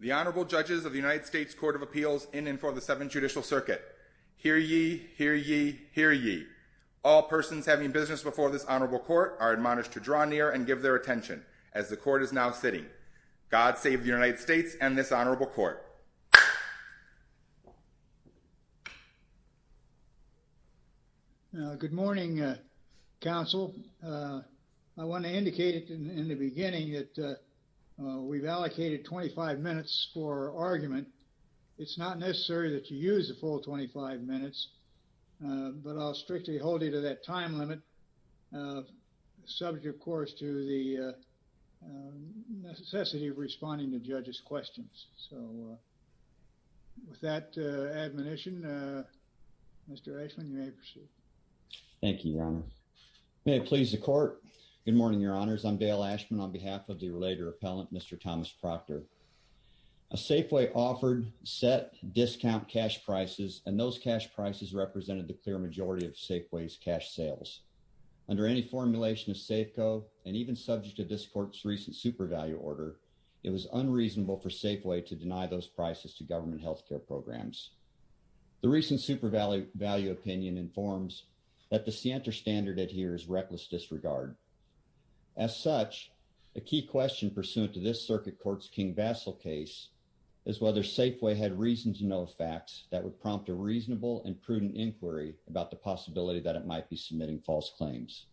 The Honorable Judges of the United States Court of Appeals in and for the Seventh Judicial Circuit. Hear ye, hear ye, hear ye. All persons having business before this Honorable Court are admonished to draw near and give their attention, as the Court is now sitting. God save the United States and this Honorable Court. Good morning, Counsel. I want to indicate in the beginning that we've allocated 25 minutes for argument. It's not necessary that you use the full 25 minutes, but I'll strictly hold you to that time limit, subject, of course, to the necessity of responding to judges' questions. So with that admonition, Mr. Ashman, you may proceed. Thank you, Your Honor. May it please the Court. Good morning, Your Honors. I'm Dale Ashman on behalf of the related appellant, Mr. Thomas Proctor. A Safeway offered set discount cash prices, and those cash prices represented the clear majority of Safeway's cash sales. Under any formulation of Safeco, and even subject to this Court's recent super value order, it was unreasonable for Safeway to deny those prices to government health care programs. The recent super value opinion informs that the Sienta standard adheres reckless disregard. As such, a key question pursuant to this Circuit Court's King-Vassil case is whether Safeway had reason to know facts that would prompt a reasonable and prudent inquiry about the possibility that it might be submitting false claims.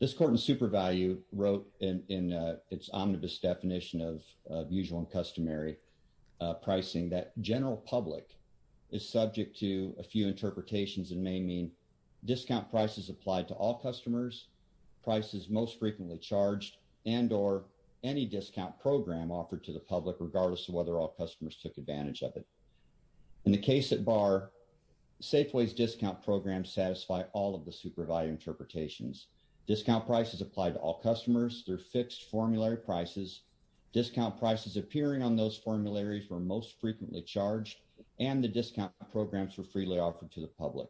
This Court in super value wrote in its omnibus definition of usual and customary pricing that general public is subject to a few interpretations and may mean discount prices applied to all customers, prices most frequently charged, and or any discount program offered to the public. In the case at bar, Safeway's discount programs satisfy all of the super value interpretations. Discount prices apply to all customers through fixed formulary prices. Discount prices appearing on those formularies were most frequently charged, and the discount programs were freely offered to the public.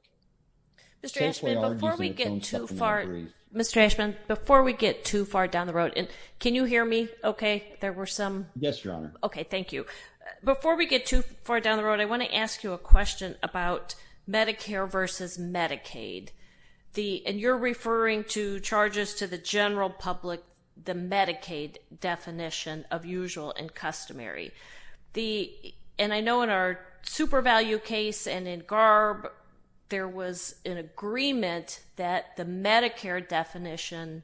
Mr. Ashman, before we get too far down the road, can you hear me okay? Yes, Your Honor. Okay, thank you. Before we get too far down the road, I want to ask you a question about Medicare versus Medicaid. And you're referring to charges to the general public, the Medicaid definition of usual and customary. And I know in our super value case and in GARB, there was an agreement that the Medicare definition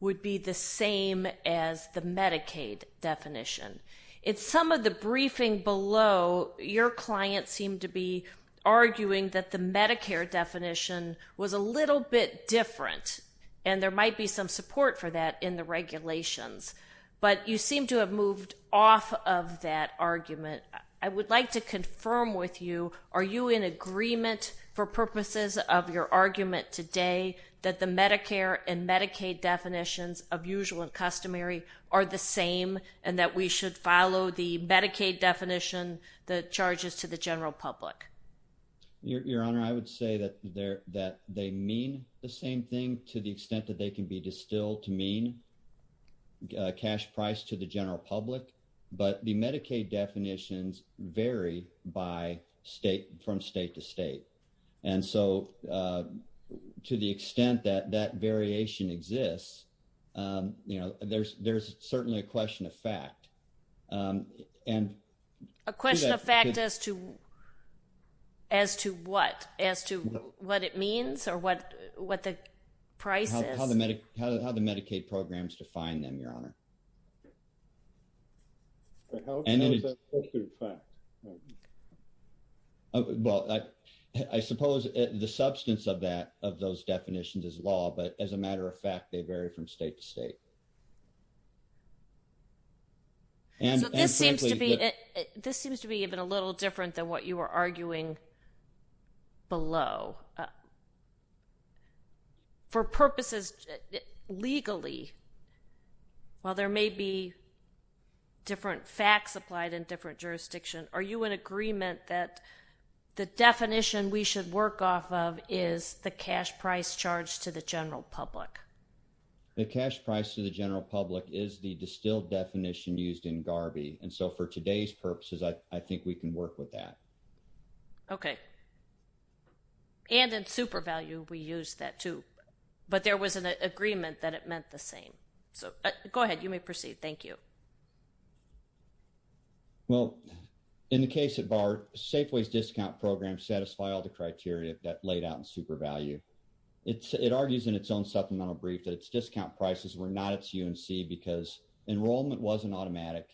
would be the same as the Medicaid definition. In some of the briefing below, your client seemed to be arguing that the Medicare definition was a little bit different, and there might be some support for that in the regulations. But you seem to have moved off of that argument. I would like to confirm with you, are you in agreement for purposes of your argument today that the Medicare and Medicaid definitions of usual and customary are the same and that we should follow the Medicaid definition, the charges to the general public? Your Honor, I would say that they mean the same thing to the extent that they can be distilled to mean cash price to the general public. But the Medicaid definitions vary from state to state. And so to the extent that that variation exists, there's certainly a question of fact. A question of fact as to what? As to what it means or what the price is? How the Medicaid programs define them, Your Honor. How is that a question of fact? Well, I suppose the substance of that, of those definitions is law. But as a matter of fact, they vary from state to state. So this seems to be even a little different than what you were arguing below. For purposes legally, while there may be different facts applied in different jurisdictions, are you in agreement that the definition we should work off of is the cash price charged to the general public? The cash price to the general public is the distilled definition used in Garvey. And so for today's purposes, I think we can work with that. Okay. And in SuperValue, we use that too. But there was an agreement that it meant the same. So go ahead. You may proceed. Thank you. Well, in the case of our Safeways Discount Program, satisfy all the criteria that laid out in SuperValue. It argues in its own supplemental brief that its discount prices were not its UNC because enrollment wasn't automatic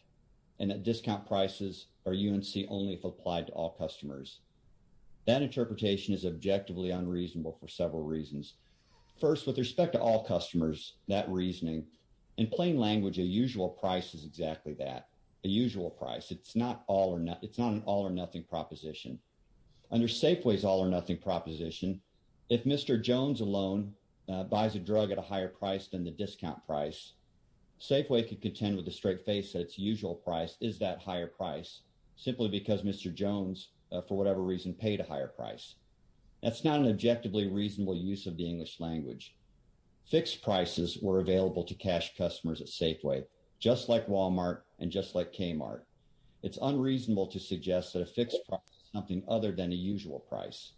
and that discount prices are UNC only if applied to all customers. That interpretation is objectively unreasonable for several reasons. First, with respect to all customers, that reasoning, in plain language, a usual price is exactly that, a usual price. It's not an all or nothing proposition. Under Safeway's all or nothing proposition, if Mr. Jones alone buys a drug at a higher price than the discount price, Safeway could contend with a straight face that its usual price is that higher price simply because Mr. Jones, for whatever reason, paid a higher price. That's not an objectively reasonable use of the English language. Fixed prices were available to cash customers at Safeway, just like Walmart and just like Kmart. It's unreasonable to suggest that a fixed price is something other than a usual price.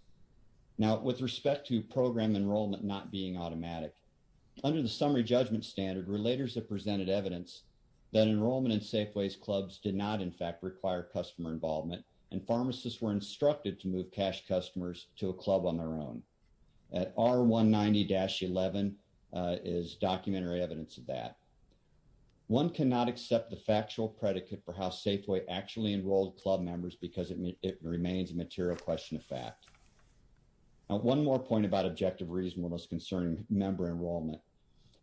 Now, with respect to program enrollment not being automatic, under the summary judgment standard, relators have presented evidence that enrollment in Safeway's clubs did not, in fact, require customer involvement and pharmacists were instructed to move cash customers to a club on their own. That R190-11 is documentary evidence of that. One cannot accept the factual predicate for how Safeway actually enrolled club members because it remains a material question of fact. Now, one more point about objective reasonableness concerning member enrollment.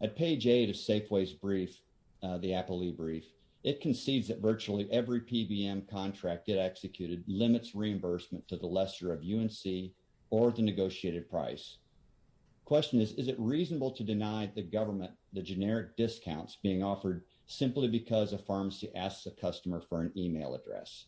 At page 8 of Safeway's brief, the Appalooh brief, it concedes that virtually every PBM contract it executed limits reimbursement to the lesser of UNC or the negotiated price. Question is, is it reasonable to deny the government the generic discounts being offered simply because a pharmacy asks a customer for an email address?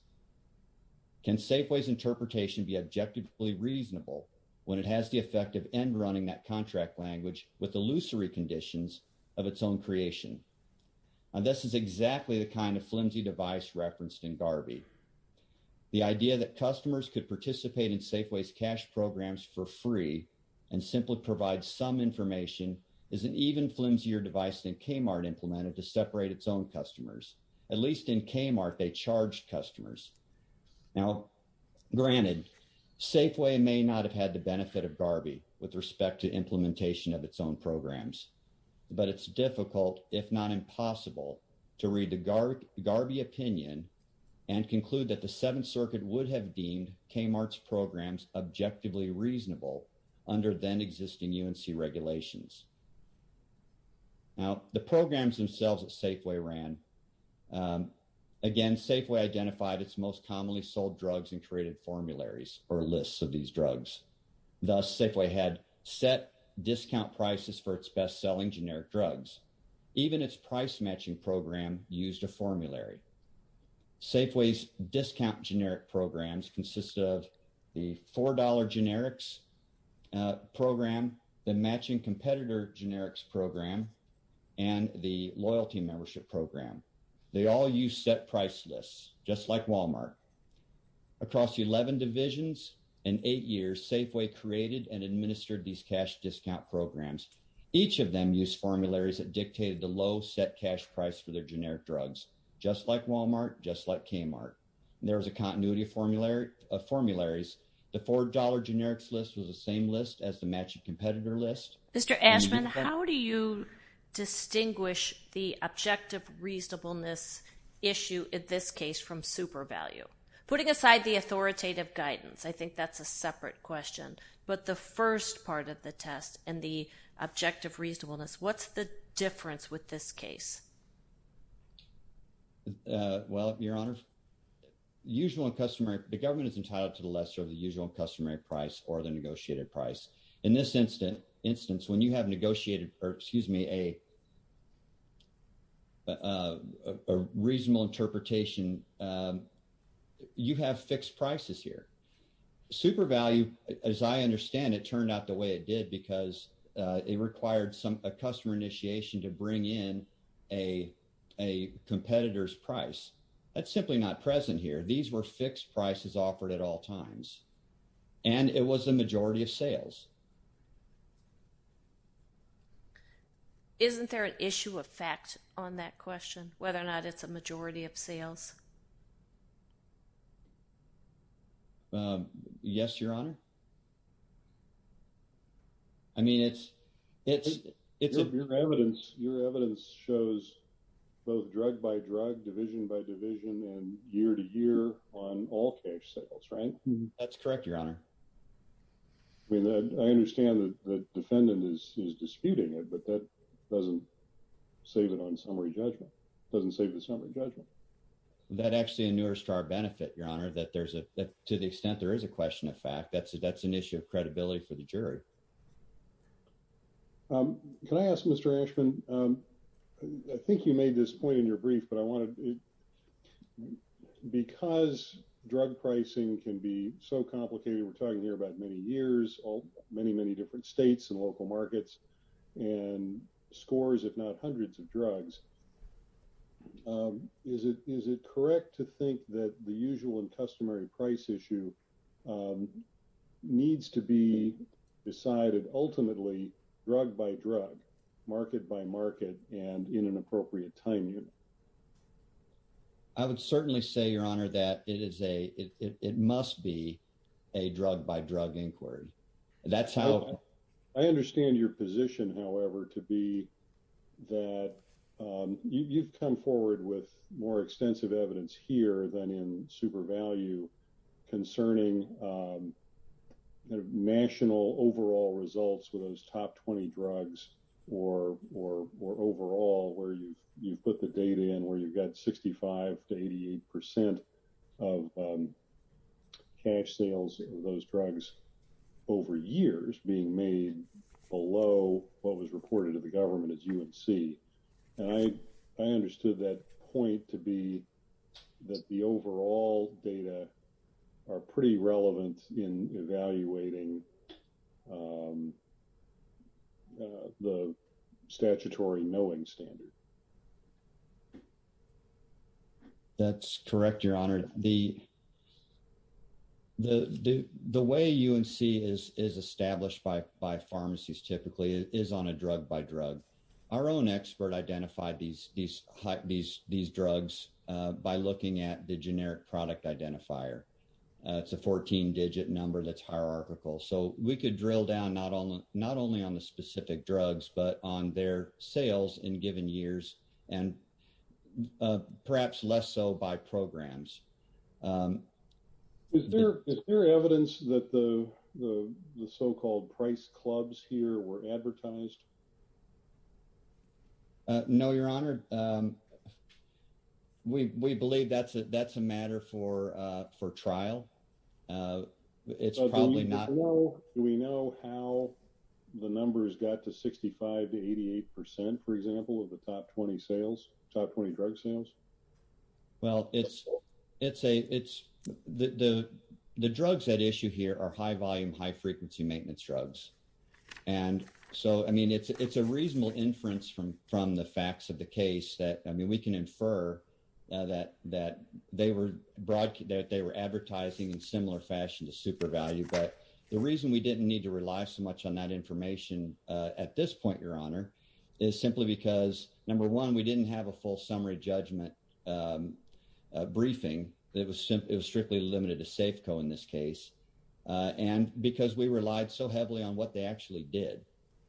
Can Safeway's interpretation be objectively reasonable when it has the effect of end running that contract language with illusory conditions of its own creation? This is exactly the kind of flimsy device referenced in Garvey. The idea that customers could participate in Safeway's cash programs for free and simply provide some information is an even flimsier device than Kmart implemented to separate its own customers. At least in Kmart, they charged customers. Now, granted, Safeway may not have had the benefit of Garvey with respect to implementation of its own programs, but it's difficult, if not impossible, to read the Garvey opinion and conclude that the Seventh Circuit would have deemed Kmart's programs objectively reasonable under then existing UNC regulations. Now, the programs themselves that Safeway ran, again, Safeway identified its most commonly sold drugs and created formularies or lists of these drugs. Thus, Safeway had set discount prices for its best selling generic drugs. Even its price matching program used a formulary. Safeway's discount generic programs consist of the $4 generics program, the matching competitor generics program, and the loyalty membership program. They all use set price lists, just like Walmart. Across 11 divisions in eight years, Safeway created and administered these cash discount programs. Each of them used formularies that dictated the low set cash price for their generic drugs, just like Walmart, just like Kmart. There was a continuity of formularies. The $4 generics list was the same list as the matching competitor list. Mr. Ashman, how do you distinguish the objective reasonableness issue in this case from super value? Putting aside the authoritative guidance, I think that's a separate question. But the first part of the test and the objective reasonableness, what's the difference with this case? Well, your honors, the government is entitled to the lesser of the usual customary price or the negotiated price. In this instance, when you have negotiated, or excuse me, a reasonable interpretation, you have fixed prices here. Super value, as I understand it, turned out the way it did because it required a customer initiation to bring in a competitor's price. That's simply not present here. These were fixed prices offered at all times. And it was the majority of sales. Isn't there an issue of fact on that question, whether or not it's a majority of sales? Yes, your honor. I mean, it's it's it's your evidence. Your evidence shows both drug by drug division by division and year to year on all cash sales, right? That's correct, your honor. I mean, I understand that the defendant is disputing it, but that doesn't save it on summary judgment. It doesn't save the summary judgment. That actually inures to our benefit, your honor, that there's a to the extent there is a question of fact that's that's an issue of credibility for the jury. Can I ask Mr. Ashman? I think you made this point in your brief, but I want to because drug pricing can be so complicated, we're talking here about many years, all many, many different states and local markets and scores, if not hundreds of drugs. Is it is it correct to think that the usual and customary price issue needs to be decided ultimately drug by drug, market by market and in an appropriate time? I would certainly say, your honor, that it is a it must be a drug by drug inquiry. That's how I understand your position, however, to be that you've come forward with more extensive evidence here than in super value concerning national overall results for those top 20 drugs or or or overall where you put the data in, where you've got sixty five to eighty eight percent of cash sales of those drugs over years being made below what was reported to the government at UNC. And I, I understood that point to be that the overall data are pretty relevant in evaluating the statutory knowing standard. That's correct, your honor, the. The the way UNC is is established by by pharmacies typically is on a drug by drug. Our own expert identified these these these these drugs by looking at the generic product identifier. It's a 14 digit number that's hierarchical. So we could drill down not on not only on the specific drugs, but on their sales in given years and perhaps less so by programs. Is there is there evidence that the the so-called price clubs here were advertised? No, your honor. We we believe that's that's a matter for for trial. It's probably not. Do we know how the numbers got to sixty five to eighty eight percent, for example, of the top 20 sales, top 20 drug sales? Well, it's it's a it's the the drugs that issue here are high volume, high frequency maintenance drugs. And so, I mean, it's it's a reasonable inference from from the facts of the case that I mean, we can infer that that they were that they were advertising in similar fashion to super value. But the reason we didn't need to rely so much on that information at this point, your honor, is simply because, number one, we didn't have a full summary judgment briefing. It was it was strictly limited to Safeco in this case. And because we relied so heavily on what they actually did,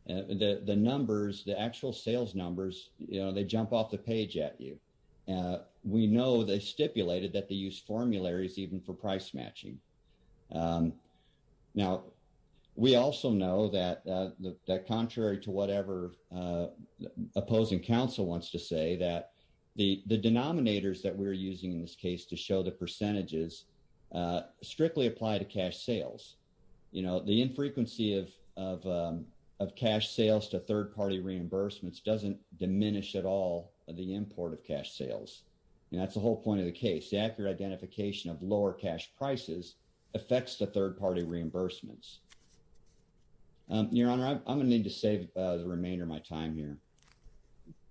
the numbers, the actual sales numbers, you know, they jump off the page at you. We know they stipulated that they use formularies even for price matching. Now, we also know that that contrary to whatever opposing counsel wants to say, that the the denominators that we're using in this case to show the percentages strictly apply to cash sales. You know, the infrequency of of of cash sales to third party reimbursements doesn't diminish at all the import of cash sales. And that's the whole point of the case. The accurate identification of lower cash prices affects the third party reimbursements. Your honor, I'm going to need to save the remainder of my time here.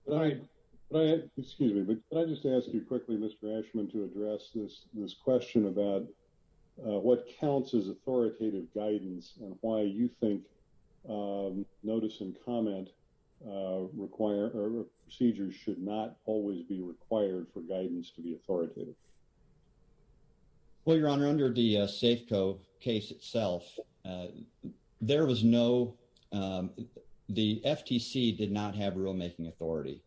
All right, excuse me, but I just asked you quickly, Mr Ashman, to address this this question about what counts is authoritative guidance and why you think notice and comment require procedures should not always be required for guidance to be authoritative. Well, your honor, under the safeco case itself, there was no the FTC did not have rule making authority.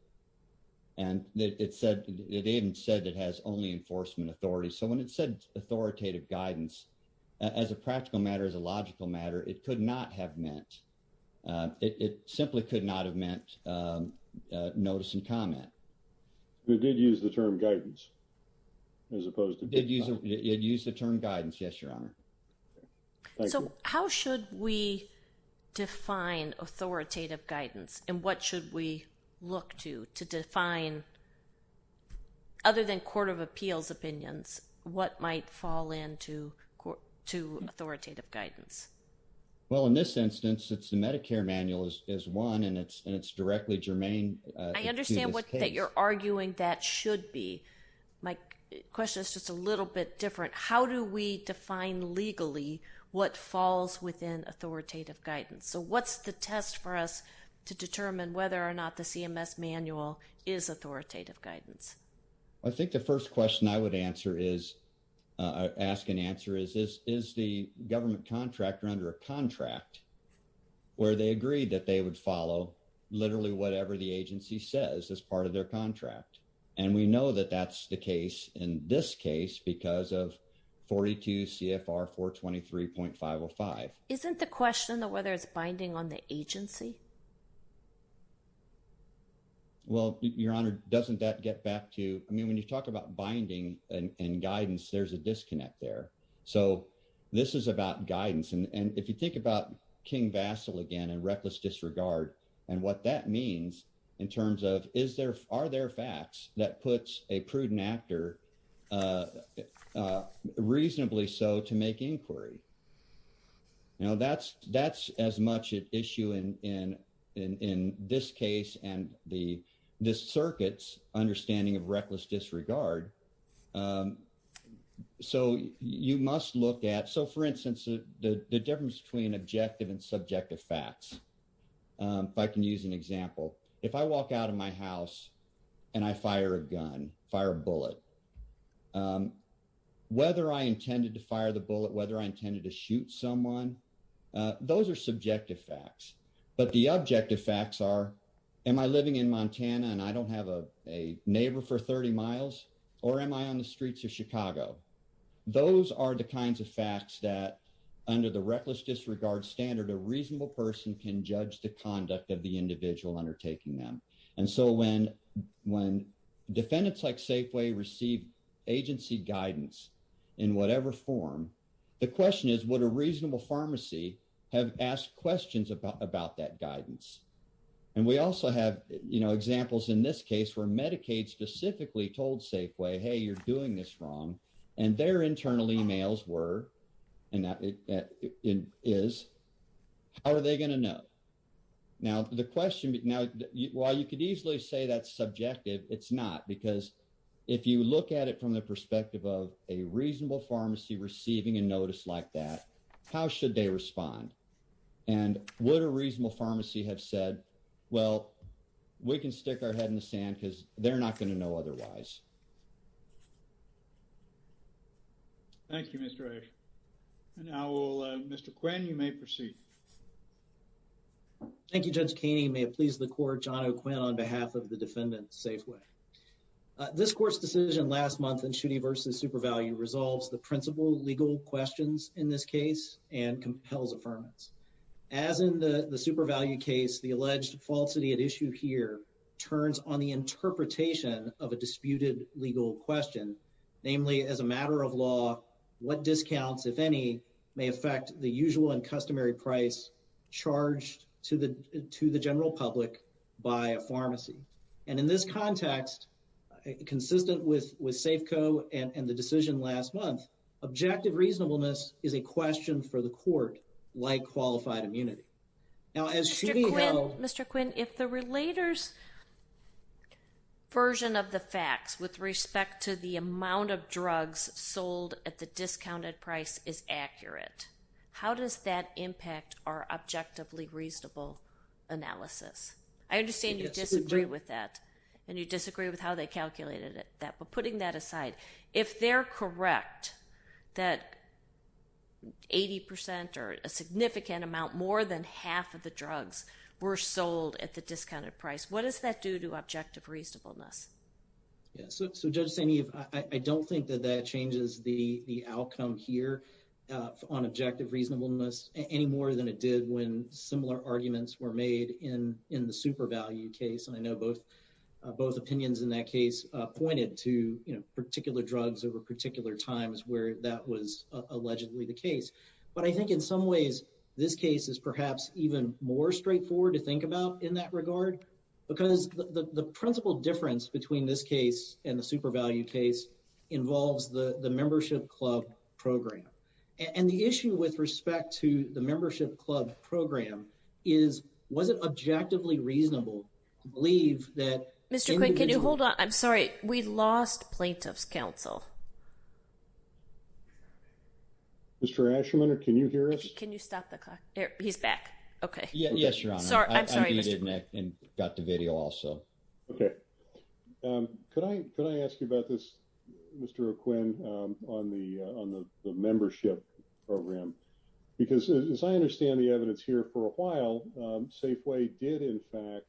And it said it even said it has only enforcement authority. So when it said authoritative guidance as a practical matter, as a logical matter, it could not have meant it simply could not have meant notice and comment. We did use the term guidance. As opposed to did you use the term guidance? Yes, your honor. So how should we define authoritative guidance? And what should we look to to define? Other than court of appeals opinions, what might fall into court to authoritative guidance? Well, in this instance, it's the Medicare manual is is one and it's it's directly germane. I understand what you're arguing that should be. My question is just a little bit different. How do we define legally what falls within authoritative guidance? So what's the test for us to determine whether or not the CMS manual is authoritative guidance? I think the first question I would answer is ask an answer. Is this is the government contractor under a contract where they agreed that they would follow literally whatever the agency says as part of their contract. And we know that that's the case in this case because of 42 CFR 423.505. Isn't the question that whether it's binding on the agency? Well, your honor, doesn't that get back to I mean, when you talk about binding and guidance, there's a disconnect there. So this is about guidance. And if you think about King vassal again, and reckless disregard, and what that means in terms of is there are there facts that puts a prudent actor reasonably so to make inquiry. Now, that's that's as much an issue in in, in this case, and the this circuits understanding of reckless disregard. So you must look at so for instance, the difference between objective and subjective facts. If I can use an example, if I walk out of my house, and I fire a gun fire bullet, whether I intended to fire the bullet, whether I intended to shoot someone, those are subjective facts. But the objective facts are, am I living in Montana, and I don't have a neighbor for 30 miles? Or am I on the streets of Chicago? Those are the kinds of facts that under the reckless disregard standard, a reasonable person can judge the conduct of the individual undertaking them. And so when when defendants like Safeway receive agency guidance, in whatever form, the question is what a reasonable pharmacy have asked questions about about that guidance. And we also have, you know, examples in this case where Medicaid specifically told Safeway, hey, you're doing this wrong. And their internal emails were, and that is, how are they going to know? Now, the question now, while you could easily say that's subjective, it's not. Because if you look at it from the perspective of a reasonable pharmacy receiving a notice like that, how should they respond? And what a reasonable pharmacy have said, well, we can stick our head in the sand because they're not going to know otherwise. Thank you, Mr. A. Now, Mr. Quinn, you may proceed. Thank you, Judge Keaney. May it please the court, John O'Quinn on behalf of the defendant Safeway. This court's decision last month in Schutte versus SuperValue resolves the principal legal questions in this case and compels affirmance. As in the SuperValue case, the alleged falsity at issue here turns on the interpretation of a disputed legal question. Namely, as a matter of law, what discounts, if any, may affect the usual and customary price charged to the general public by a pharmacy? And in this context, consistent with Safeco and the decision last month, objective reasonableness is a question for the court, like qualified immunity. Mr. Quinn, if the relator's version of the facts with respect to the amount of drugs sold at the discounted price is accurate, how does that impact our objectively reasonable analysis? I understand you disagree with that and you disagree with how they calculated that, but putting that aside, if they're correct that 80% or a significant amount, more than half of the drugs were sold at the discounted price, what does that do to objective reasonableness? Yes. So Judge St-Yves, I don't think that that changes the outcome here on objective reasonableness any more than it did when similar arguments were made in the SuperValue case. And I know both opinions in that case pointed to particular drugs over particular times where that was allegedly the case. But I think in some ways, this case is perhaps even more straightforward to think about in that regard because the principal difference between this case and the SuperValue case involves the membership club program. And the issue with respect to the membership club program is, was it objectively reasonable to believe that- Mr. Quinn, can you hold on? I'm sorry. We lost plaintiff's counsel. Mr. Asherman, can you hear us? Can you stop the clock? He's back. Okay. Yes, Your Honor. I'm sorry, Mr. Quinn. I got the video also. Okay. Could I ask you about this, Mr. Quinn, on the membership program? Because as I understand the evidence here for a while, Safeway did in fact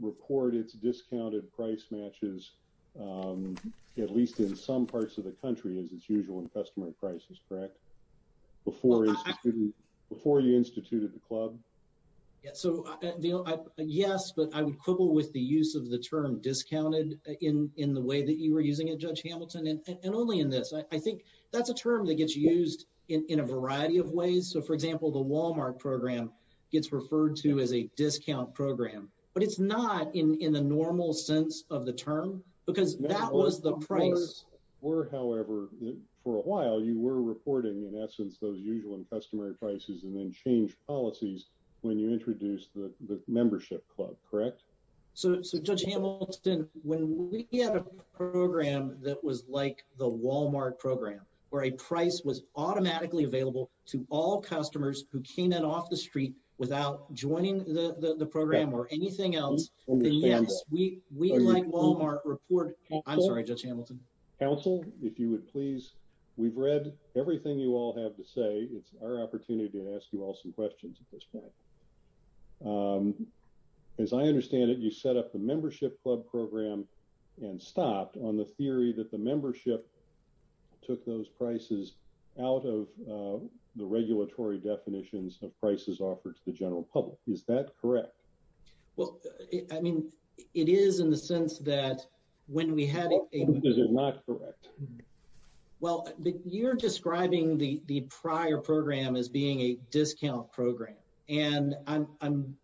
report its discounted price matches, at least in some parts of the country, as is usual in customary prices, correct? Before you instituted the club? Yes, but I would quibble with the use of the term discounted in the way that you were using it, Judge Hamilton, and only in this. I think that's a term that gets used in a variety of ways. So for example, the Walmart program gets referred to as a discount program, but it's not in the normal sense of the term because that was the you were reporting in essence those usual and customary prices and then change policies when you introduced the membership club, correct? So Judge Hamilton, when we had a program that was like the Walmart program, where a price was automatically available to all customers who came in off the street without joining the program or anything else, then yes, we like Walmart report. I'm sorry, Judge Hamilton. Counsel, if you would please, we've read everything you all have to say. It's our opportunity to ask you all some questions at this point. As I understand it, you set up the membership club program and stopped on the theory that the membership took those prices out of the regulatory definitions of prices offered to the general public. Is that correct? Well, I mean, it is in the sense that when we had a... Is it not correct? Well, you're describing the prior program as being a discount program and I'm...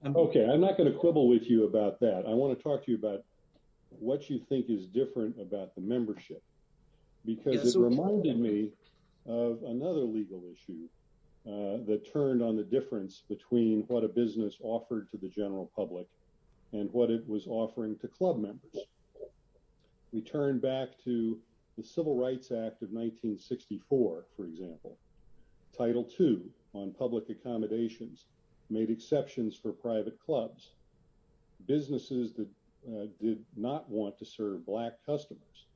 Okay, I'm not going to quibble with you about that. I want to talk to you about what you think is different about the membership because it reminded me of another legal issue that turned on the difference between what a business offered to the general public and what it was offering to club members. We turn back to the Civil Rights Act of 1964, for example. Title II on public accommodations made exceptions for private clubs. Businesses that did not want to serve black customers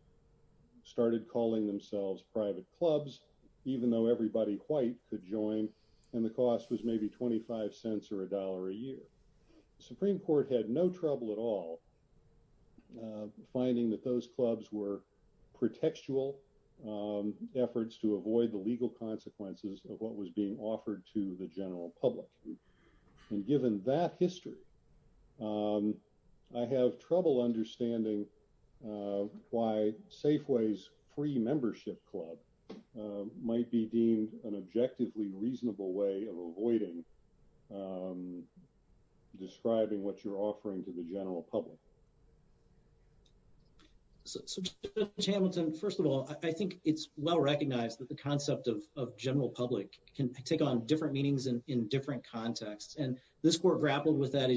started calling themselves private clubs, even though everybody white could join, and the cost was maybe 25 cents or a dollar a year. The Supreme Court had no trouble at all finding that those clubs were pretextual efforts to avoid the legal consequences of what was being offered to the general public. And given that history, I have trouble understanding why Safeway's pre-membership club might be deemed an objectively reasonable way of avoiding describing what you're offering to the general public. So, Judge Hamilton, first of all, I think it's well recognized that the concept of general public can take on different meanings in different contexts. And this court grappled with that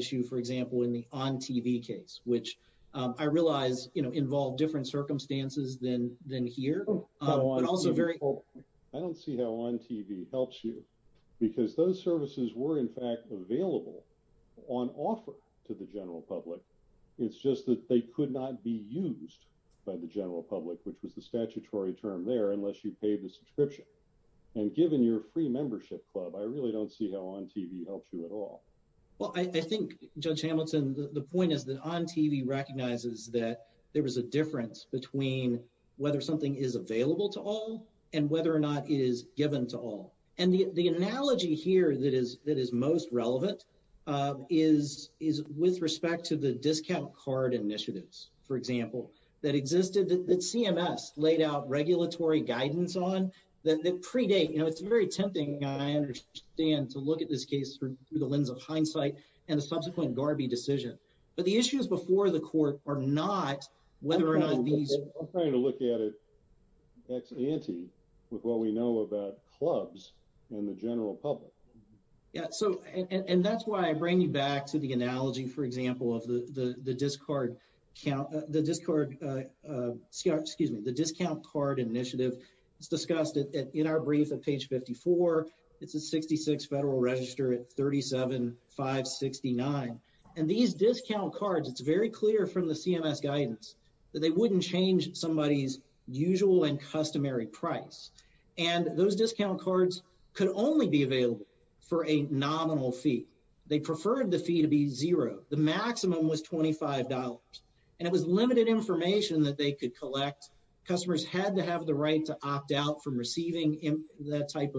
involved different circumstances than here. I don't see how on TV helps you because those services were in fact available on offer to the general public. It's just that they could not be used by the general public, which is the statutory term there, unless you pay the subscription. And given your pre-membership club, I really don't see how on TV helps you at all. Well, I think, Judge Hamilton, the point is that on TV recognizes that there was a difference between whether something is available to all and whether or not it is given to all. And the analogy here that is most relevant is with respect to the discount card initiatives, for example, that existed that CMS laid out regulatory guidance on that predate. It's very tempting, I understand, to look at this case through the lens of hindsight and the subsequent Garvey decision. But the issues before the court are not whether or not these... I'm trying to look at it ex ante with what we know about clubs and the general public. Yeah. And that's why I bring you back to the analogy, for example, of the discount card initiative. It's discussed in our brief at page 54. It's a 66 Federal Register at 37569. And these discount cards, it's very clear from the CMS guidance that they wouldn't change somebody's usual and customary price. And those discount cards could only be available for a nominal fee. They preferred the fee to be zero. The maximum was $25. And it was limited information that they could collect. Customers had to have the right to opt out from receiving that type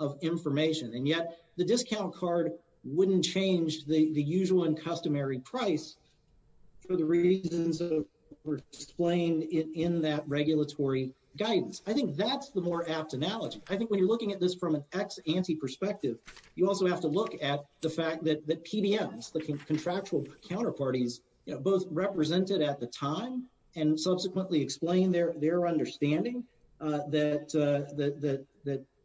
of information. And yet the discount card wouldn't change the usual and customary price for the reasons that were explained in that regulatory guidance. I think that's the more apt analogy. I think when you're looking at this from an ex ante perspective, you also have to look at the contractual counterparties both represented at the time and subsequently explained their understanding that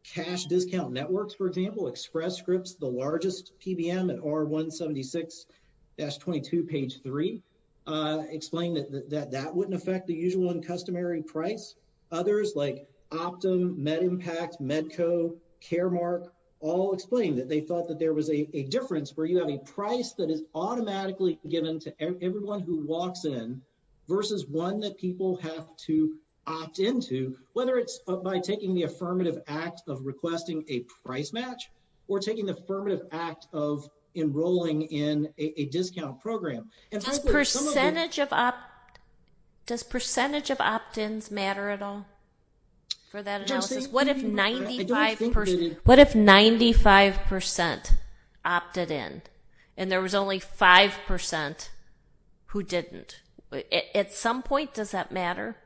cash discount networks, for example, Express Scripts, the largest PBM at R176-22, page 3, explained that that wouldn't affect the usual and customary price. Others like Optum, Medimpact, Medco, Caremark, all explained that they thought that there was a difference where you have a price that is automatically given to everyone who walks in versus one that people have to opt into, whether it's by taking the affirmative act of requesting a price match or taking the affirmative act of enrolling in a discount program. Does percentage of opt-ins matter at all for that analysis? What if 95% opted in and there was only 5% who didn't? At some point, does that matter?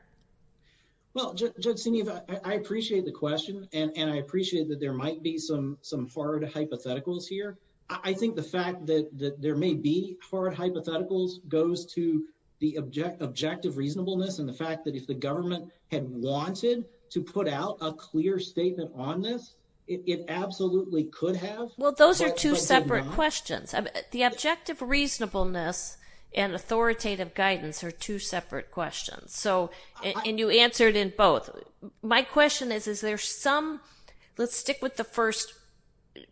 Well, Judge Senev, I appreciate the question and I appreciate that there might be some hypotheticals here. I think the fact that there may be hard hypotheticals goes to the objective reasonableness and the fact that if the government had wanted to put out a clear statement on this, it absolutely could have. Well, those are two separate questions. The objective reasonableness and authoritative guidance are two separate questions and you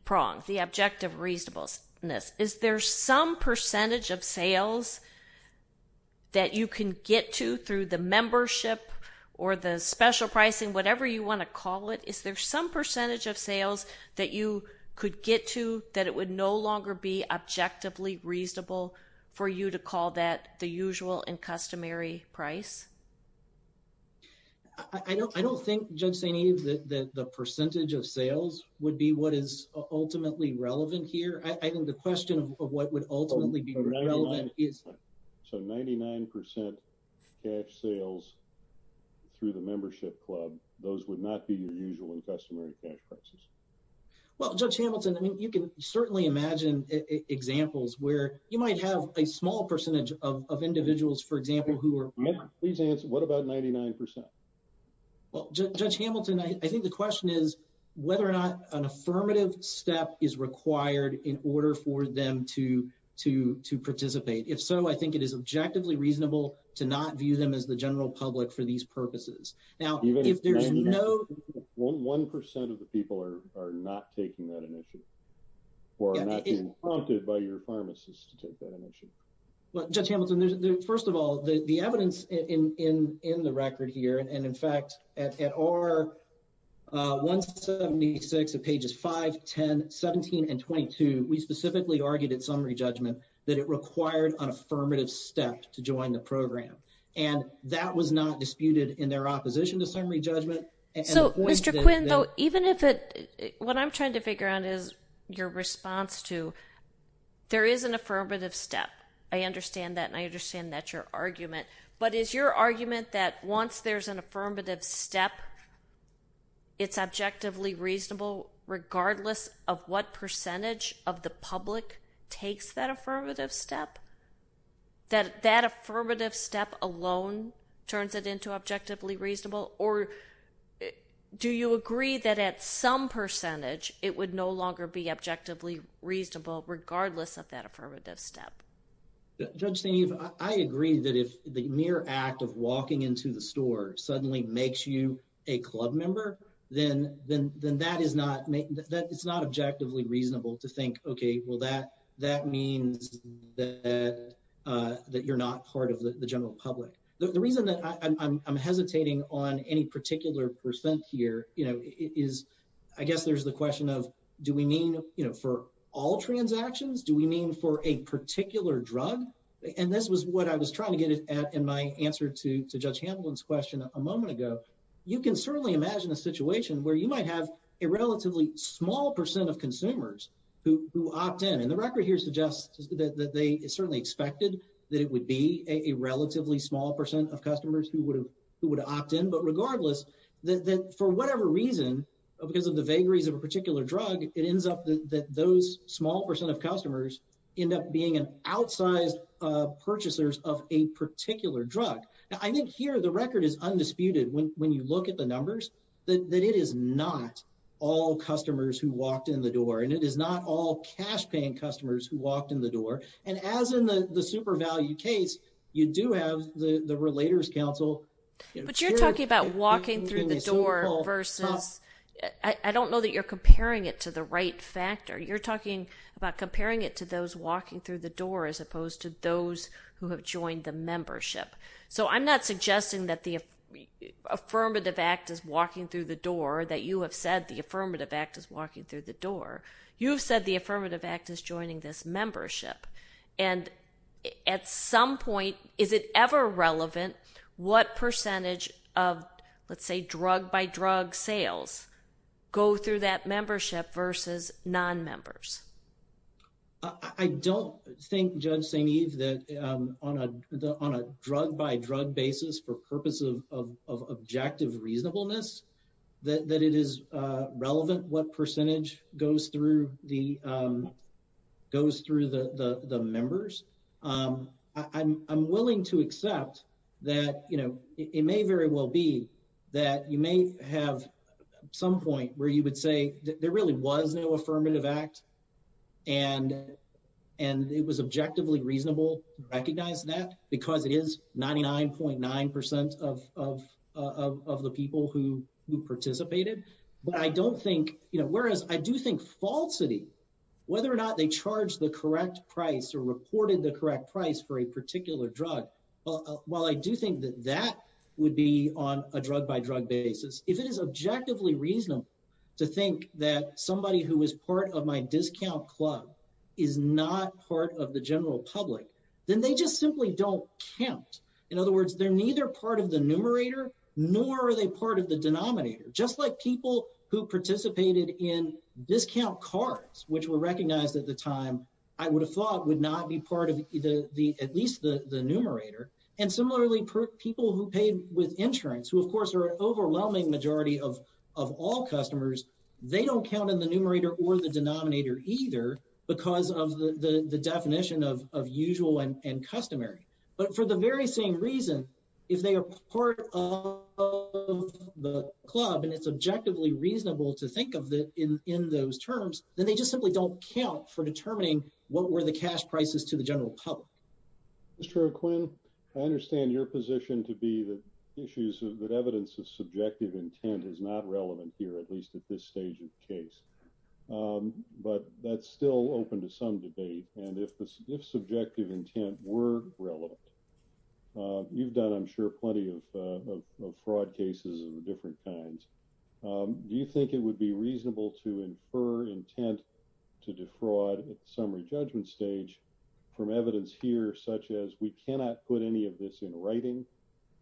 pronged the objective reasonableness. Is there some percentage of sales that you can get to through the membership or the special pricing, whatever you want to call it? Is there some percentage of sales that you could get to that it would no longer be objectively reasonable for you to call that the usual and customary price? I don't think, Judge Senev, that the percentage of sales would be what is ultimately relevant here. I think the question of what would ultimately be relevant is... So 99% cash sales through the membership club, those would not be the usual and customary cash prices? Well, Judge Hamilton, I mean, you can certainly imagine examples where you might have a small percentage of individuals, for example, who are... Please answer. What about 99%? Well, Judge Hamilton, I think the question is whether or not an affirmative step is required in order for them to participate. If so, I think it is objectively reasonable to not view them as the general public for these purposes. Now, if there's no... One percent of the people are not taking that initiative or are not being prompted by your pharmacist to take that initiative. Well, Judge Hamilton, first of all, the evidence in the record here, and in fact, at R176 of pages 5, 10, 17, and 22, we specifically argued at summary judgment that it required an affirmative step to join the program. And that was not disputed in their opposition to summary judgment. So, Mr. Quinn, though, even if it... What I'm trying to figure out is your response to, there is an affirmative step. I understand that, and I understand that's your argument. But is your argument that once there's an affirmative step, it's objectively reasonable regardless of what percentage of the public takes that affirmative step? That that affirmative step alone turns it into objectively reasonable? Or do you agree that at some percentage, it would no longer be objectively reasonable regardless of that affirmative step? Judge Steeve, I agree that if the mere act of walking into the store suddenly makes you a club member, then that is not... It's not objectively reasonable to think, okay, well, that means that you're not part of the general public. The reason that I'm hesitating on any particular percent here is, I guess there's the question of, do we mean for all transactions? Do we mean for a particular drug? And this was what I was trying to get at in my answer to Judge Hamblin's question a moment ago. You can certainly imagine a situation where you might have a relatively small percent of consumers who opt in. And the record here suggests that they certainly expected that it would be a relatively small percent of customers who would opt in. But regardless, that for whatever reason, because of the vagaries of a particular drug, it ends up that those small percent of customers end up being an outsized purchasers of a particular drug. Now, I think here the record is undisputed when you look at the numbers, that it is not all customers who walked in the door. And it is not all cash paying customers who walked in the door. And as in the super value case, you do have the Relators Council. But you're talking about walking through the door versus... I don't know that you're comparing it to the right factor. You're talking about comparing it to those walking through the door as opposed to those who have joined the membership. So I'm not suggesting that the Affirmative Act is walking through the door, that you have said the Affirmative Act is walking through the door. You've said the Affirmative Act is joining this membership. And at some point, is it ever relevant what percentage of, let's say, drug by drug sales go through that membership versus non-members? I don't think, Judge St. Eve, that on a drug by drug basis for purpose of objective reasonableness, that it is relevant what percentage goes through the members. I'm willing to accept that it may very well be that you may have some point where you would say there really was no Affirmative Act and it was objectively reasonable to recognize that because it is 99.9% of the people who participated. But I don't think... Whereas I do think falsity, whether or not they charged the correct price or reported the correct price for a particular drug, while I do think that that would be on a drug by drug basis, if the person who is part of my discount club is not part of the general public, then they just simply don't count. In other words, they're neither part of the numerator, nor are they part of the denominator. Just like people who participated in discount cards, which were recognized at the time, I would have thought would not be part of either, at least the numerator. And similarly, people who paid with insurance, who of course are an overwhelming majority of all customers, they don't count in the numerator or the denominator either because of the definition of usual and customary. But for the very same reason, if they are part of the club and it's objectively reasonable to think of in those terms, then they just simply don't count for determining what were the cash prices to the general public. Mr. McQuinn, I understand your position to be that evidence of subjective intent is not relevant here, at least at this stage of the case. But that's still open to some debate. And if subjective intent were relevant, you've done, I'm sure, plenty of fraud cases of different kinds. Do you think it would be reasonable to infer intent to defraud at the summary judgment stage from evidence here, such as we cannot put any of this in writing,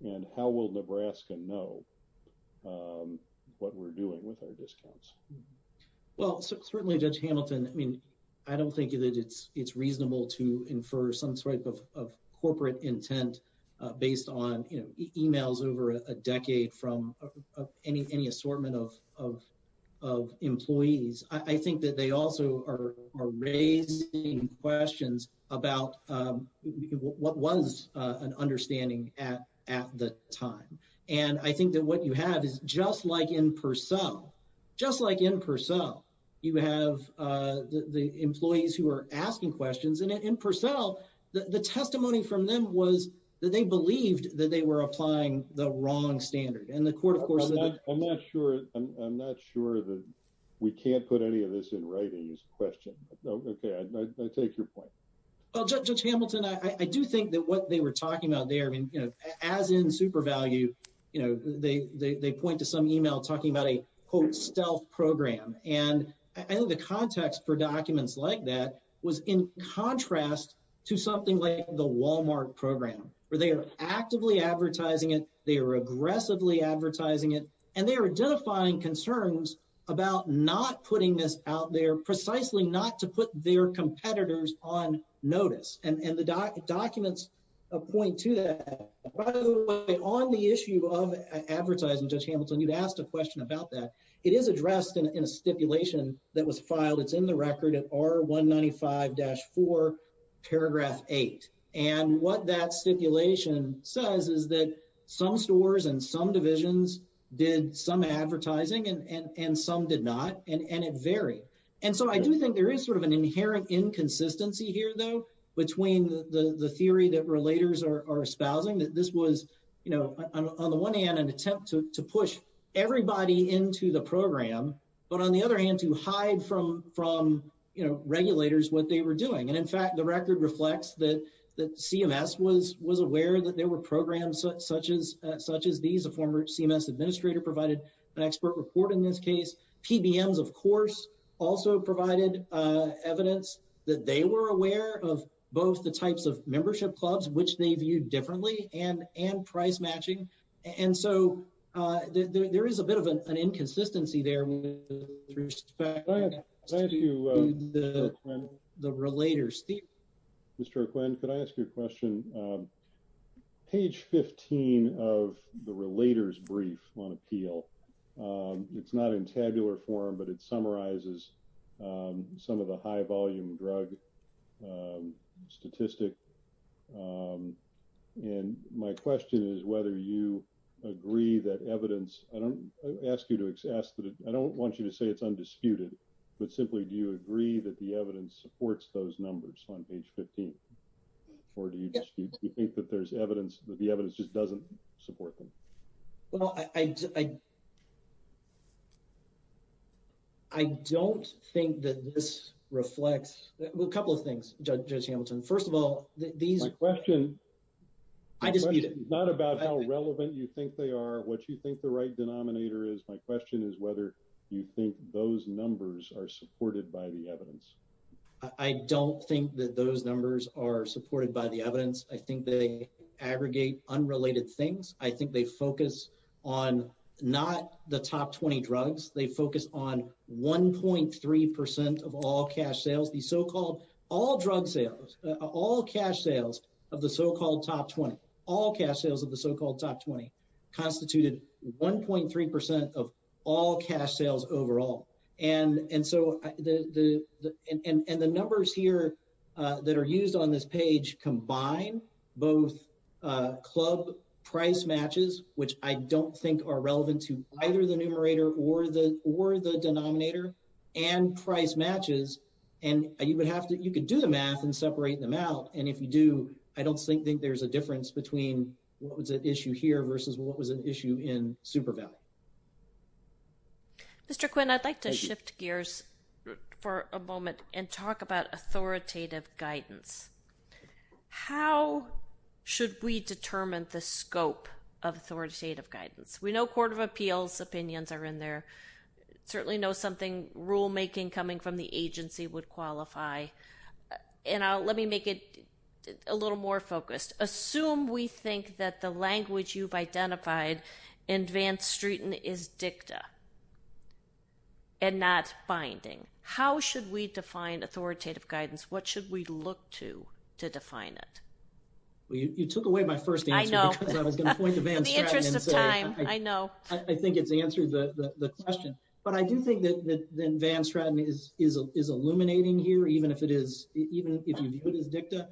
and how will Nebraska know what we're doing with our discounts? Well, certainly, Judge Hamilton, I mean, I don't think that it's reasonable to infer some type of corporate intent based on emails over a decade from any assortment of employees. I think that they also are raising questions about what was an understanding at the time. And I think that what you have is just like in Purcell, just like in Purcell, you have the employees who are asking questions. And in Purcell, the testimony from them was that they believed that they were applying the wrong standard. And the court, of course, I'm not sure. I'm not sure that we can't put any of this in writing, this question. I take your point. Well, Judge Hamilton, I do think that what they were talking about there, as in SuperValue, they point to some email talking about a, quote, stealth program. And I think the context for documents like that was in contrast to something like the Walmart program, where they are actively advertising it, they are aggressively advertising it, and they are identifying concerns about not putting this out there, precisely not to put their competitors on notice. And the documents point to that. By the way, on the issue of advertising, Judge Hamilton, you've asked a question about that. It is addressed in a stipulation that was filed. It's in the record at R195-4, paragraph 8. And what that stipulation says is that some stores and some divisions did some advertising and some did not, and it varied. And so I do think there is sort of an inherent inconsistency here, though, between the theory that relators are espousing, that this was, on the one hand, an attempt to push everybody into the program, but on the other hand, to hide from regulators what they were doing. And in fact, the record reflects that CMS was aware that there were programs such as these. A former CMS administrator provided an expert report in this case. PBMs, of course, also provided evidence that they were aware of both the types of membership clubs, which they viewed differently, and price matching. And so there is a bit of an inconsistency there with respect to the relators. Steve? Mr. Quinn, could I ask you a question? Page 15 of the relators brief on appeal, it's not in tabular form, but it summarizes some of the high volume drug statistic. And my question is whether you agree that evidence, I don't want you to say it's undisputed, but simply do you agree that the evidence supports those numbers on page 15? Or do you think that there's evidence that the evidence just doesn't support them? Well, I don't think that this reflects, well, a couple of things, Judge Hamilton. First of all, my question is not about how relevant you think they are, what you think the right denominator is. My question is whether you think those numbers are supported by the evidence. I don't think that those numbers are supported by the evidence. I think they aggregate unrelated things. I think they focus on not the top 20 drugs. They focus on 1.3% of all cash sales, the so-called all drug sales, all cash sales of the so-called top 20, all cash sales of the so-called top 20, constituted 1.3% of all cash sales overall. And the numbers here that are used on this page combine both club price matches, which I don't think are relevant to either the numerator or the denominator, and price matches. And you could do the math and separate them out. And if you do, I don't think there's a difference between what was at issue here versus what was at issue in Superville. Mr. Quinn, I'd like to shift gears for a moment and talk about authoritative guidance. How should we determine the scope of authoritative guidance? We know Court of Appeals opinions are in there, certainly know something rulemaking coming from the agency would qualify. And let me make it a little more focused. Assume we think that the language you've identified in Van Straten is dicta and not binding. How should we define authoritative guidance? What should we look to to define it? Well, you took away my first answer because I was going to point to Van Straten. In the interest of time, I know. I think it's answered the question. But I do think that Van Straten is illuminating here, even if it is dicta.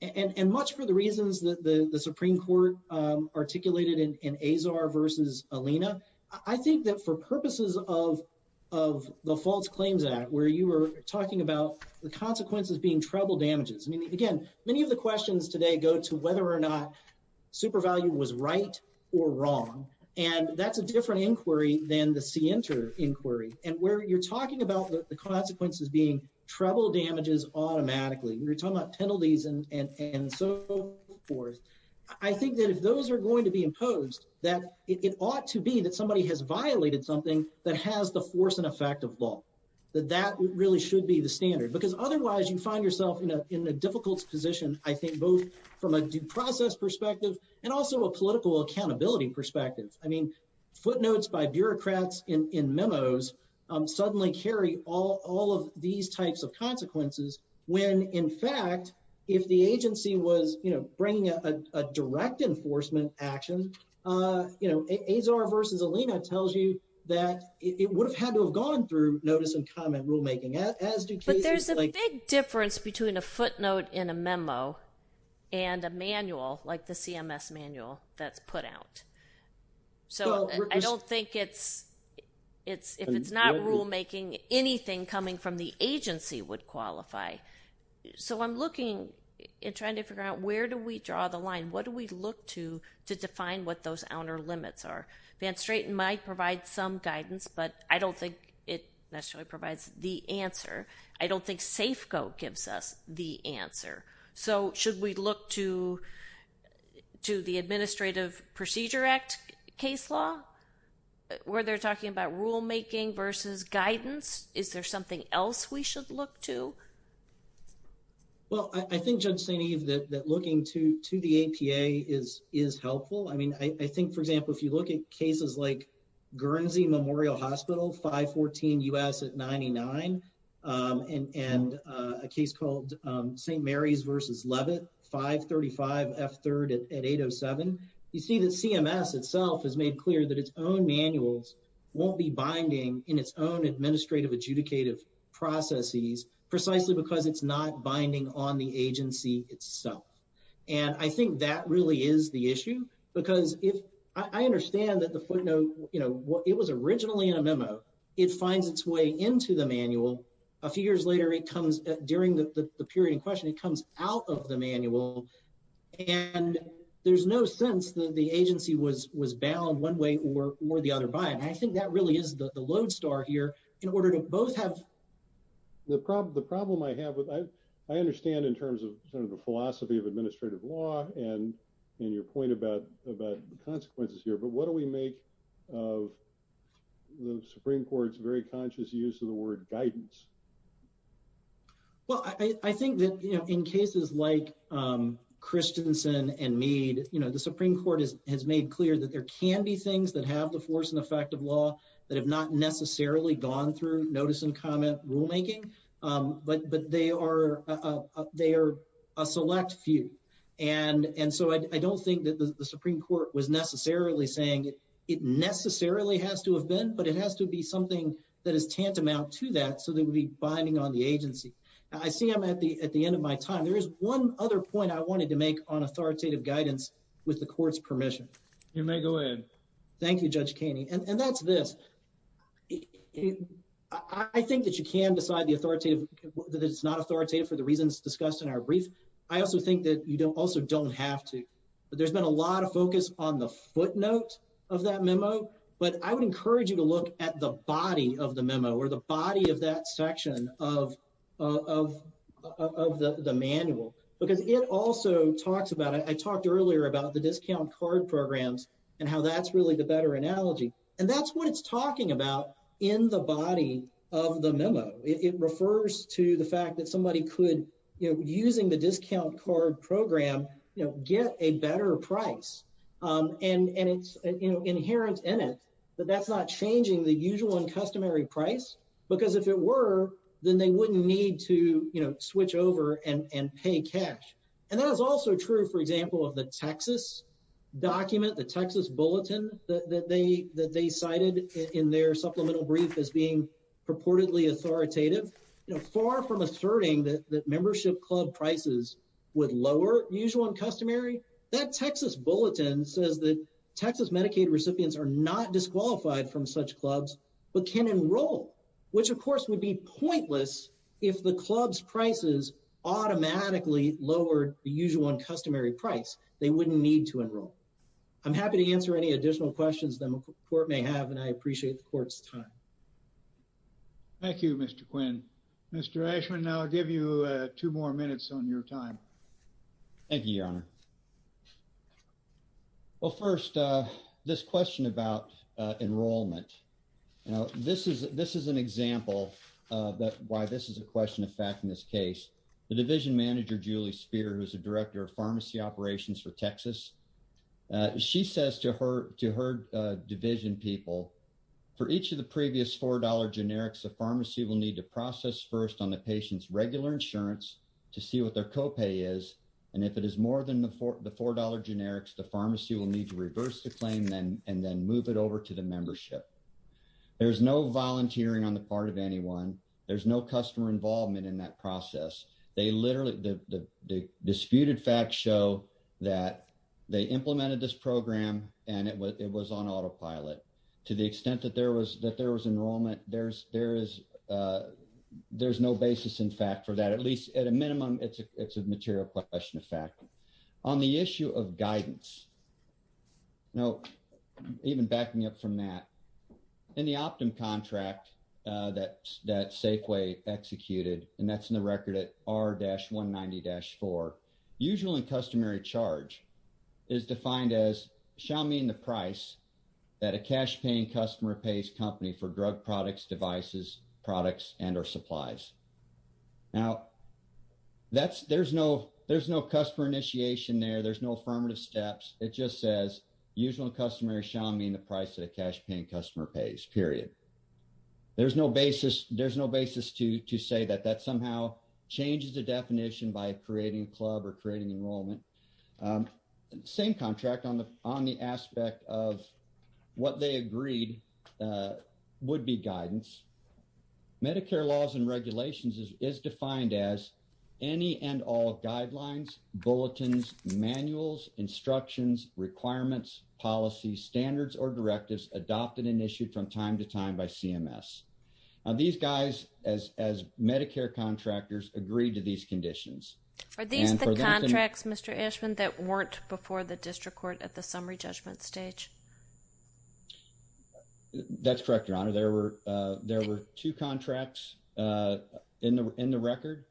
And much for the reasons that the Supreme Court articulated in Azar versus Alina, I think that for purposes of the False Claims Act, where you were talking about the consequences being treble damages. I mean, again, many of the questions today go to whether or not Supervalue was right or wrong. And that's a different inquiry than the Sienter inquiry. And where you're talking about the consequences being treble damages automatically, you're talking about penalties and so forth. I think that if those are going to be imposed, that it ought to be that somebody has violated something that has the force and effect of law, that that really should be the standard. Because otherwise, you find yourself in a difficult position, I think, both from a due process perspective, and also a in memos, suddenly carry all of these types of consequences, when in fact, if the agency was, you know, bringing a direct enforcement action, you know, Azar versus Alina tells you that it would have had to have gone through notice and comment rulemaking, as do cases like- But there's a big difference between a footnote in a memo and a manual, like the CMS manual, that's put out. So I don't think it's, it's, if it's not rulemaking, anything coming from the agency would qualify. So I'm looking and trying to figure out where do we draw the line? What do we look to, to define what those outer limits are? Van Straaten might provide some guidance, but I don't think it necessarily provides the answer. I don't think Safeco gives us the answer. So should we look to, to the Administrative Procedure Act case law, where they're talking about rulemaking versus guidance? Is there something else we should look to? Well, I think Judge St. Eve, that looking to, to the APA is, is helpful. I mean, I think, for example, if you look at cases like Guernsey Memorial Hospital, 514 U.S. at 99, and, and a case called St. Mary's versus Levitt, 535 F3rd at 807, you see the CMS itself has made clear that its own manuals won't be binding in its own administrative adjudicative processes, precisely because it's not binding on the agency itself. And I think that really is the issue, because if, I understand that the footnote, you know, it was originally in a memo, it finds its way into the manual. A few years later, it comes during the, the period in question, it comes out of the manual. And there's no sense that the agency was, was bound one way or, or the other by, and I think that really is the, the lodestar here in order to both have. The problem, the problem I have with, I, I understand in terms of sort of the philosophy of administrative law and, and your point about, about the consequences here, but what do we make of the Supreme Court's very conscious use of the word guidance? Well, I think that, you know, in cases like Christensen and Mead, you know, the Supreme Court is, has made clear that there can be things that have the force and effect of law that have not necessarily gone through notice and comment rulemaking. But, but they are, they are a select few. And, and so I don't think that the Supreme Court was necessarily saying it necessarily has to have been, but it has to be something that is tantamount to that. So they would be binding on the agency. I see I'm at the, at the end of my time. There is one other point I wanted to make on authoritative guidance with the court's permission. You may go ahead. Thank you, Judge Kaney. And that's this. I think that you can decide the authoritative, that it's not authoritative for the reasons discussed in our brief. I also think that you don't also don't have to, but there's been a lot of focus on the footnote of that memo, but I would encourage you to look at the body of the memo or the body of that section of, of, of the manual, because it also talks about, I talked earlier about the discount card programs and how that's really the better analogy. And that's what it's talking about in the body of the memo. It refers to the program, you know, get a better price. And, and it's inherent in it, but that's not changing the usual and customary price, because if it were, then they wouldn't need to switch over and pay cash. And that is also true, for example, of the Texas document, the Texas bulletin that they, that they cited in their supplemental brief as being purportedly authoritative, far from asserting that membership club prices would lower usual and customary, that Texas bulletin says that Texas Medicaid recipients are not disqualified from such clubs, but can enroll, which of course would be pointless if the club's prices automatically lowered the usual and customary price, they wouldn't need to enroll. I'm happy to answer any additional questions the I'll give you two more minutes on your time. Thank you, your honor. Well, first, this question about enrollment. Now, this is this is an example of why this is a question of fact, in this case, the division manager, Julie Spear, who's the director of pharmacy operations for Texas. She says to her to her division people, for each of the previous $4 generics, the pharmacy will need to process first on the patient's regular insurance to see what their copay is. And if it is more than the $4 generics, the pharmacy will need to reverse the claim then and then move it over to the membership. There's no volunteering on the part of anyone, there's no customer involvement in that process. They literally the disputed facts show that they implemented this program, and it was it was on autopilot, to the extent that there was that there is there's no basis, in fact, for that, at least at a minimum, it's a it's a material question of fact, on the issue of guidance. Now, even backing up from that, in the optimum contract, that that Safeway executed, and that's in the record at R dash 190 dash four, usually customary charge is defined as shall mean the price that a cash paying customer pays company for drug products, devices, products and or supplies. Now, that's there's no, there's no customer initiation there, there's no affirmative steps, it just says, usual customary shall mean the price that a cash paying customer pays period. There's no basis, there's no basis to to say that that somehow changes the definition by creating club or creating enrollment. Same contract on the aspect of what they agreed would be guidance. Medicare laws and regulations is defined as any and all guidelines, bulletins, manuals, instructions, requirements, policy standards, or directives adopted and issued from time to time by CMS. These guys as as Medicare contractors agreed to these conditions. Are these the contracts, Mr. Ashman that weren't before the district court at the summary judgment stage? That's correct, Your Honor, there were, there were two contracts in the in the record,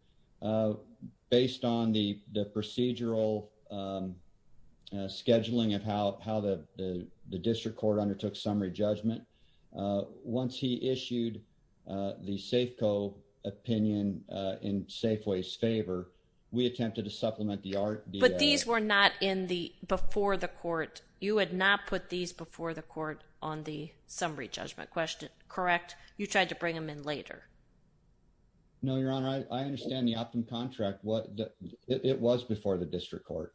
based on the procedural scheduling of how how the the district court undertook summary judgment. Once he issued the Safeco opinion in Safeway's favor, we attempted to supplement the art, but these were not in the before the court, you had not put these before the court on the summary judgment question, correct? You tried to bring them in later. No, Your Honor, I understand the opt-in contract, what it was before the district court.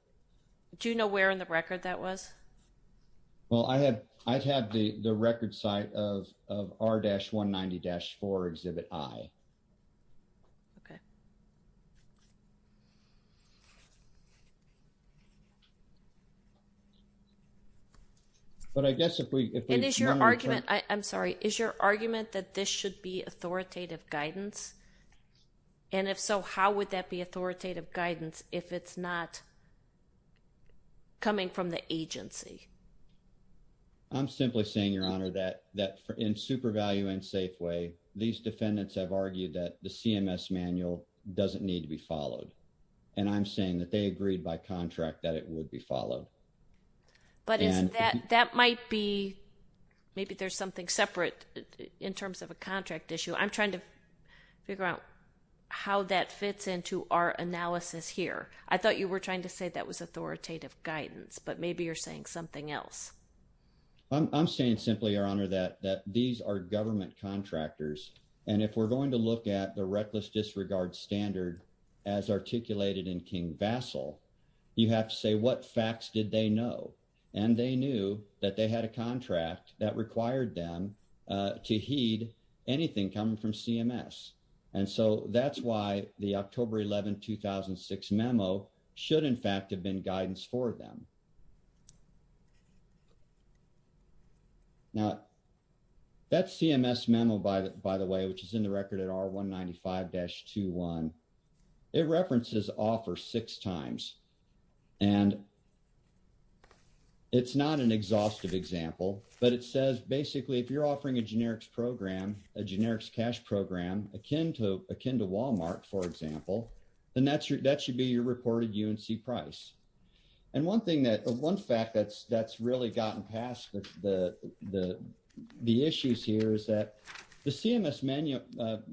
Do you know where in the record that was? Well, I had, I've had the the record site of R-190-4 Exhibit I. Okay. But I guess if we, and is your argument, I'm sorry, is your argument that this should be authoritative guidance? And if so, how would that be authoritative guidance if it's not coming from the agency? I'm simply saying, Your Honor, that that in super value and Safeway, these defendants have argued that the CMS manual doesn't need to be followed. And I'm saying that they agreed by contract that it would be followed. But that might be, maybe there's something separate in terms of a contract issue. I'm trying to figure out how that fits into our analysis here. I thought you were trying to say that was authoritative guidance, but maybe you're saying something else. I'm saying simply, Your Honor, that that these are government contractors. And if we're going to look at the reckless disregard standard, as articulated in King Basel, you have to say what facts did they know? And they knew that they had a contract that should, in fact, have been guidance for them. Now, that CMS memo, by the way, which is in the record at R195-21, it references offer six times. And it's not an exhaustive example, but it says, basically, if you're offering a generics program, a generics cash program, akin to Walmart, for example, then that should be your reported UNC price. And one fact that's really gotten past the issues here is that the CMS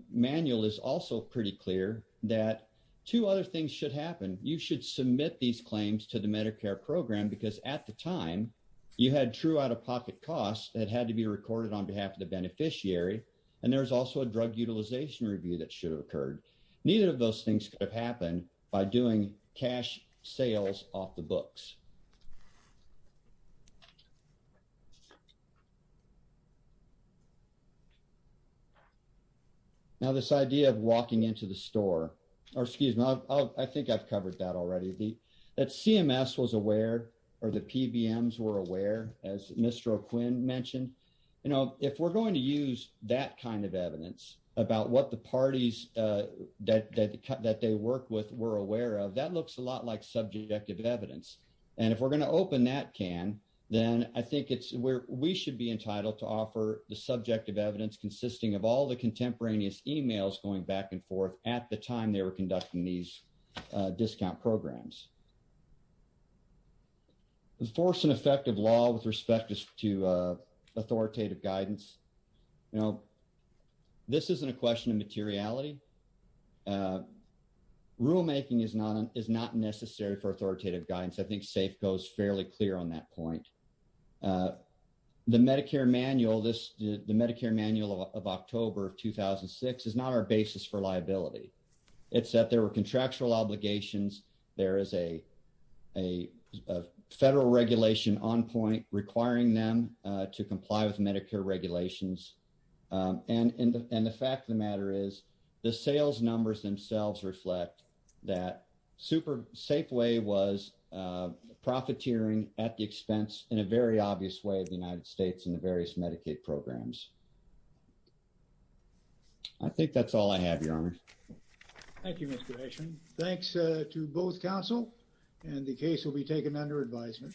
manual is also pretty clear that two other things should happen. You should submit these claims to the Medicare program, because at the time, you had true out-of-pocket costs that had to be recorded on behalf of the beneficiary, and there was also a drug utilization review that should have occurred. Neither of those things could have happened by doing cash sales off the books. Now, this idea of walking into the store, or excuse me, I think I've covered that already, that CMS was aware, or the PBMs were aware, as Mr. O'Quinn mentioned. You know, if we're going to use that kind of evidence about what the parties that they work with were aware of, that looks a lot like subjective evidence. And if we're going to open that can, then I think it's where we should be entitled to offer the subjective evidence consisting of all the contemporaneous emails going back and forth at the time they were conducting these discount programs. Enforce an effective law with respect to authoritative guidance. You know, this isn't a question of materiality. Rulemaking is not necessary for authoritative guidance. I think SAFE goes fairly clear on that point. The Medicare manual of October 2006 is not our obligation. There is a federal regulation on point requiring them to comply with Medicare regulations. And the fact of the matter is, the sales numbers themselves reflect that SAFEway was profiteering at the expense in a very obvious way of the United States and the various Medicaid programs. I think that's all I have, Your Honor. Thank you, Mr. Gration. Thanks to both counsel, and the case will be taken under advisement.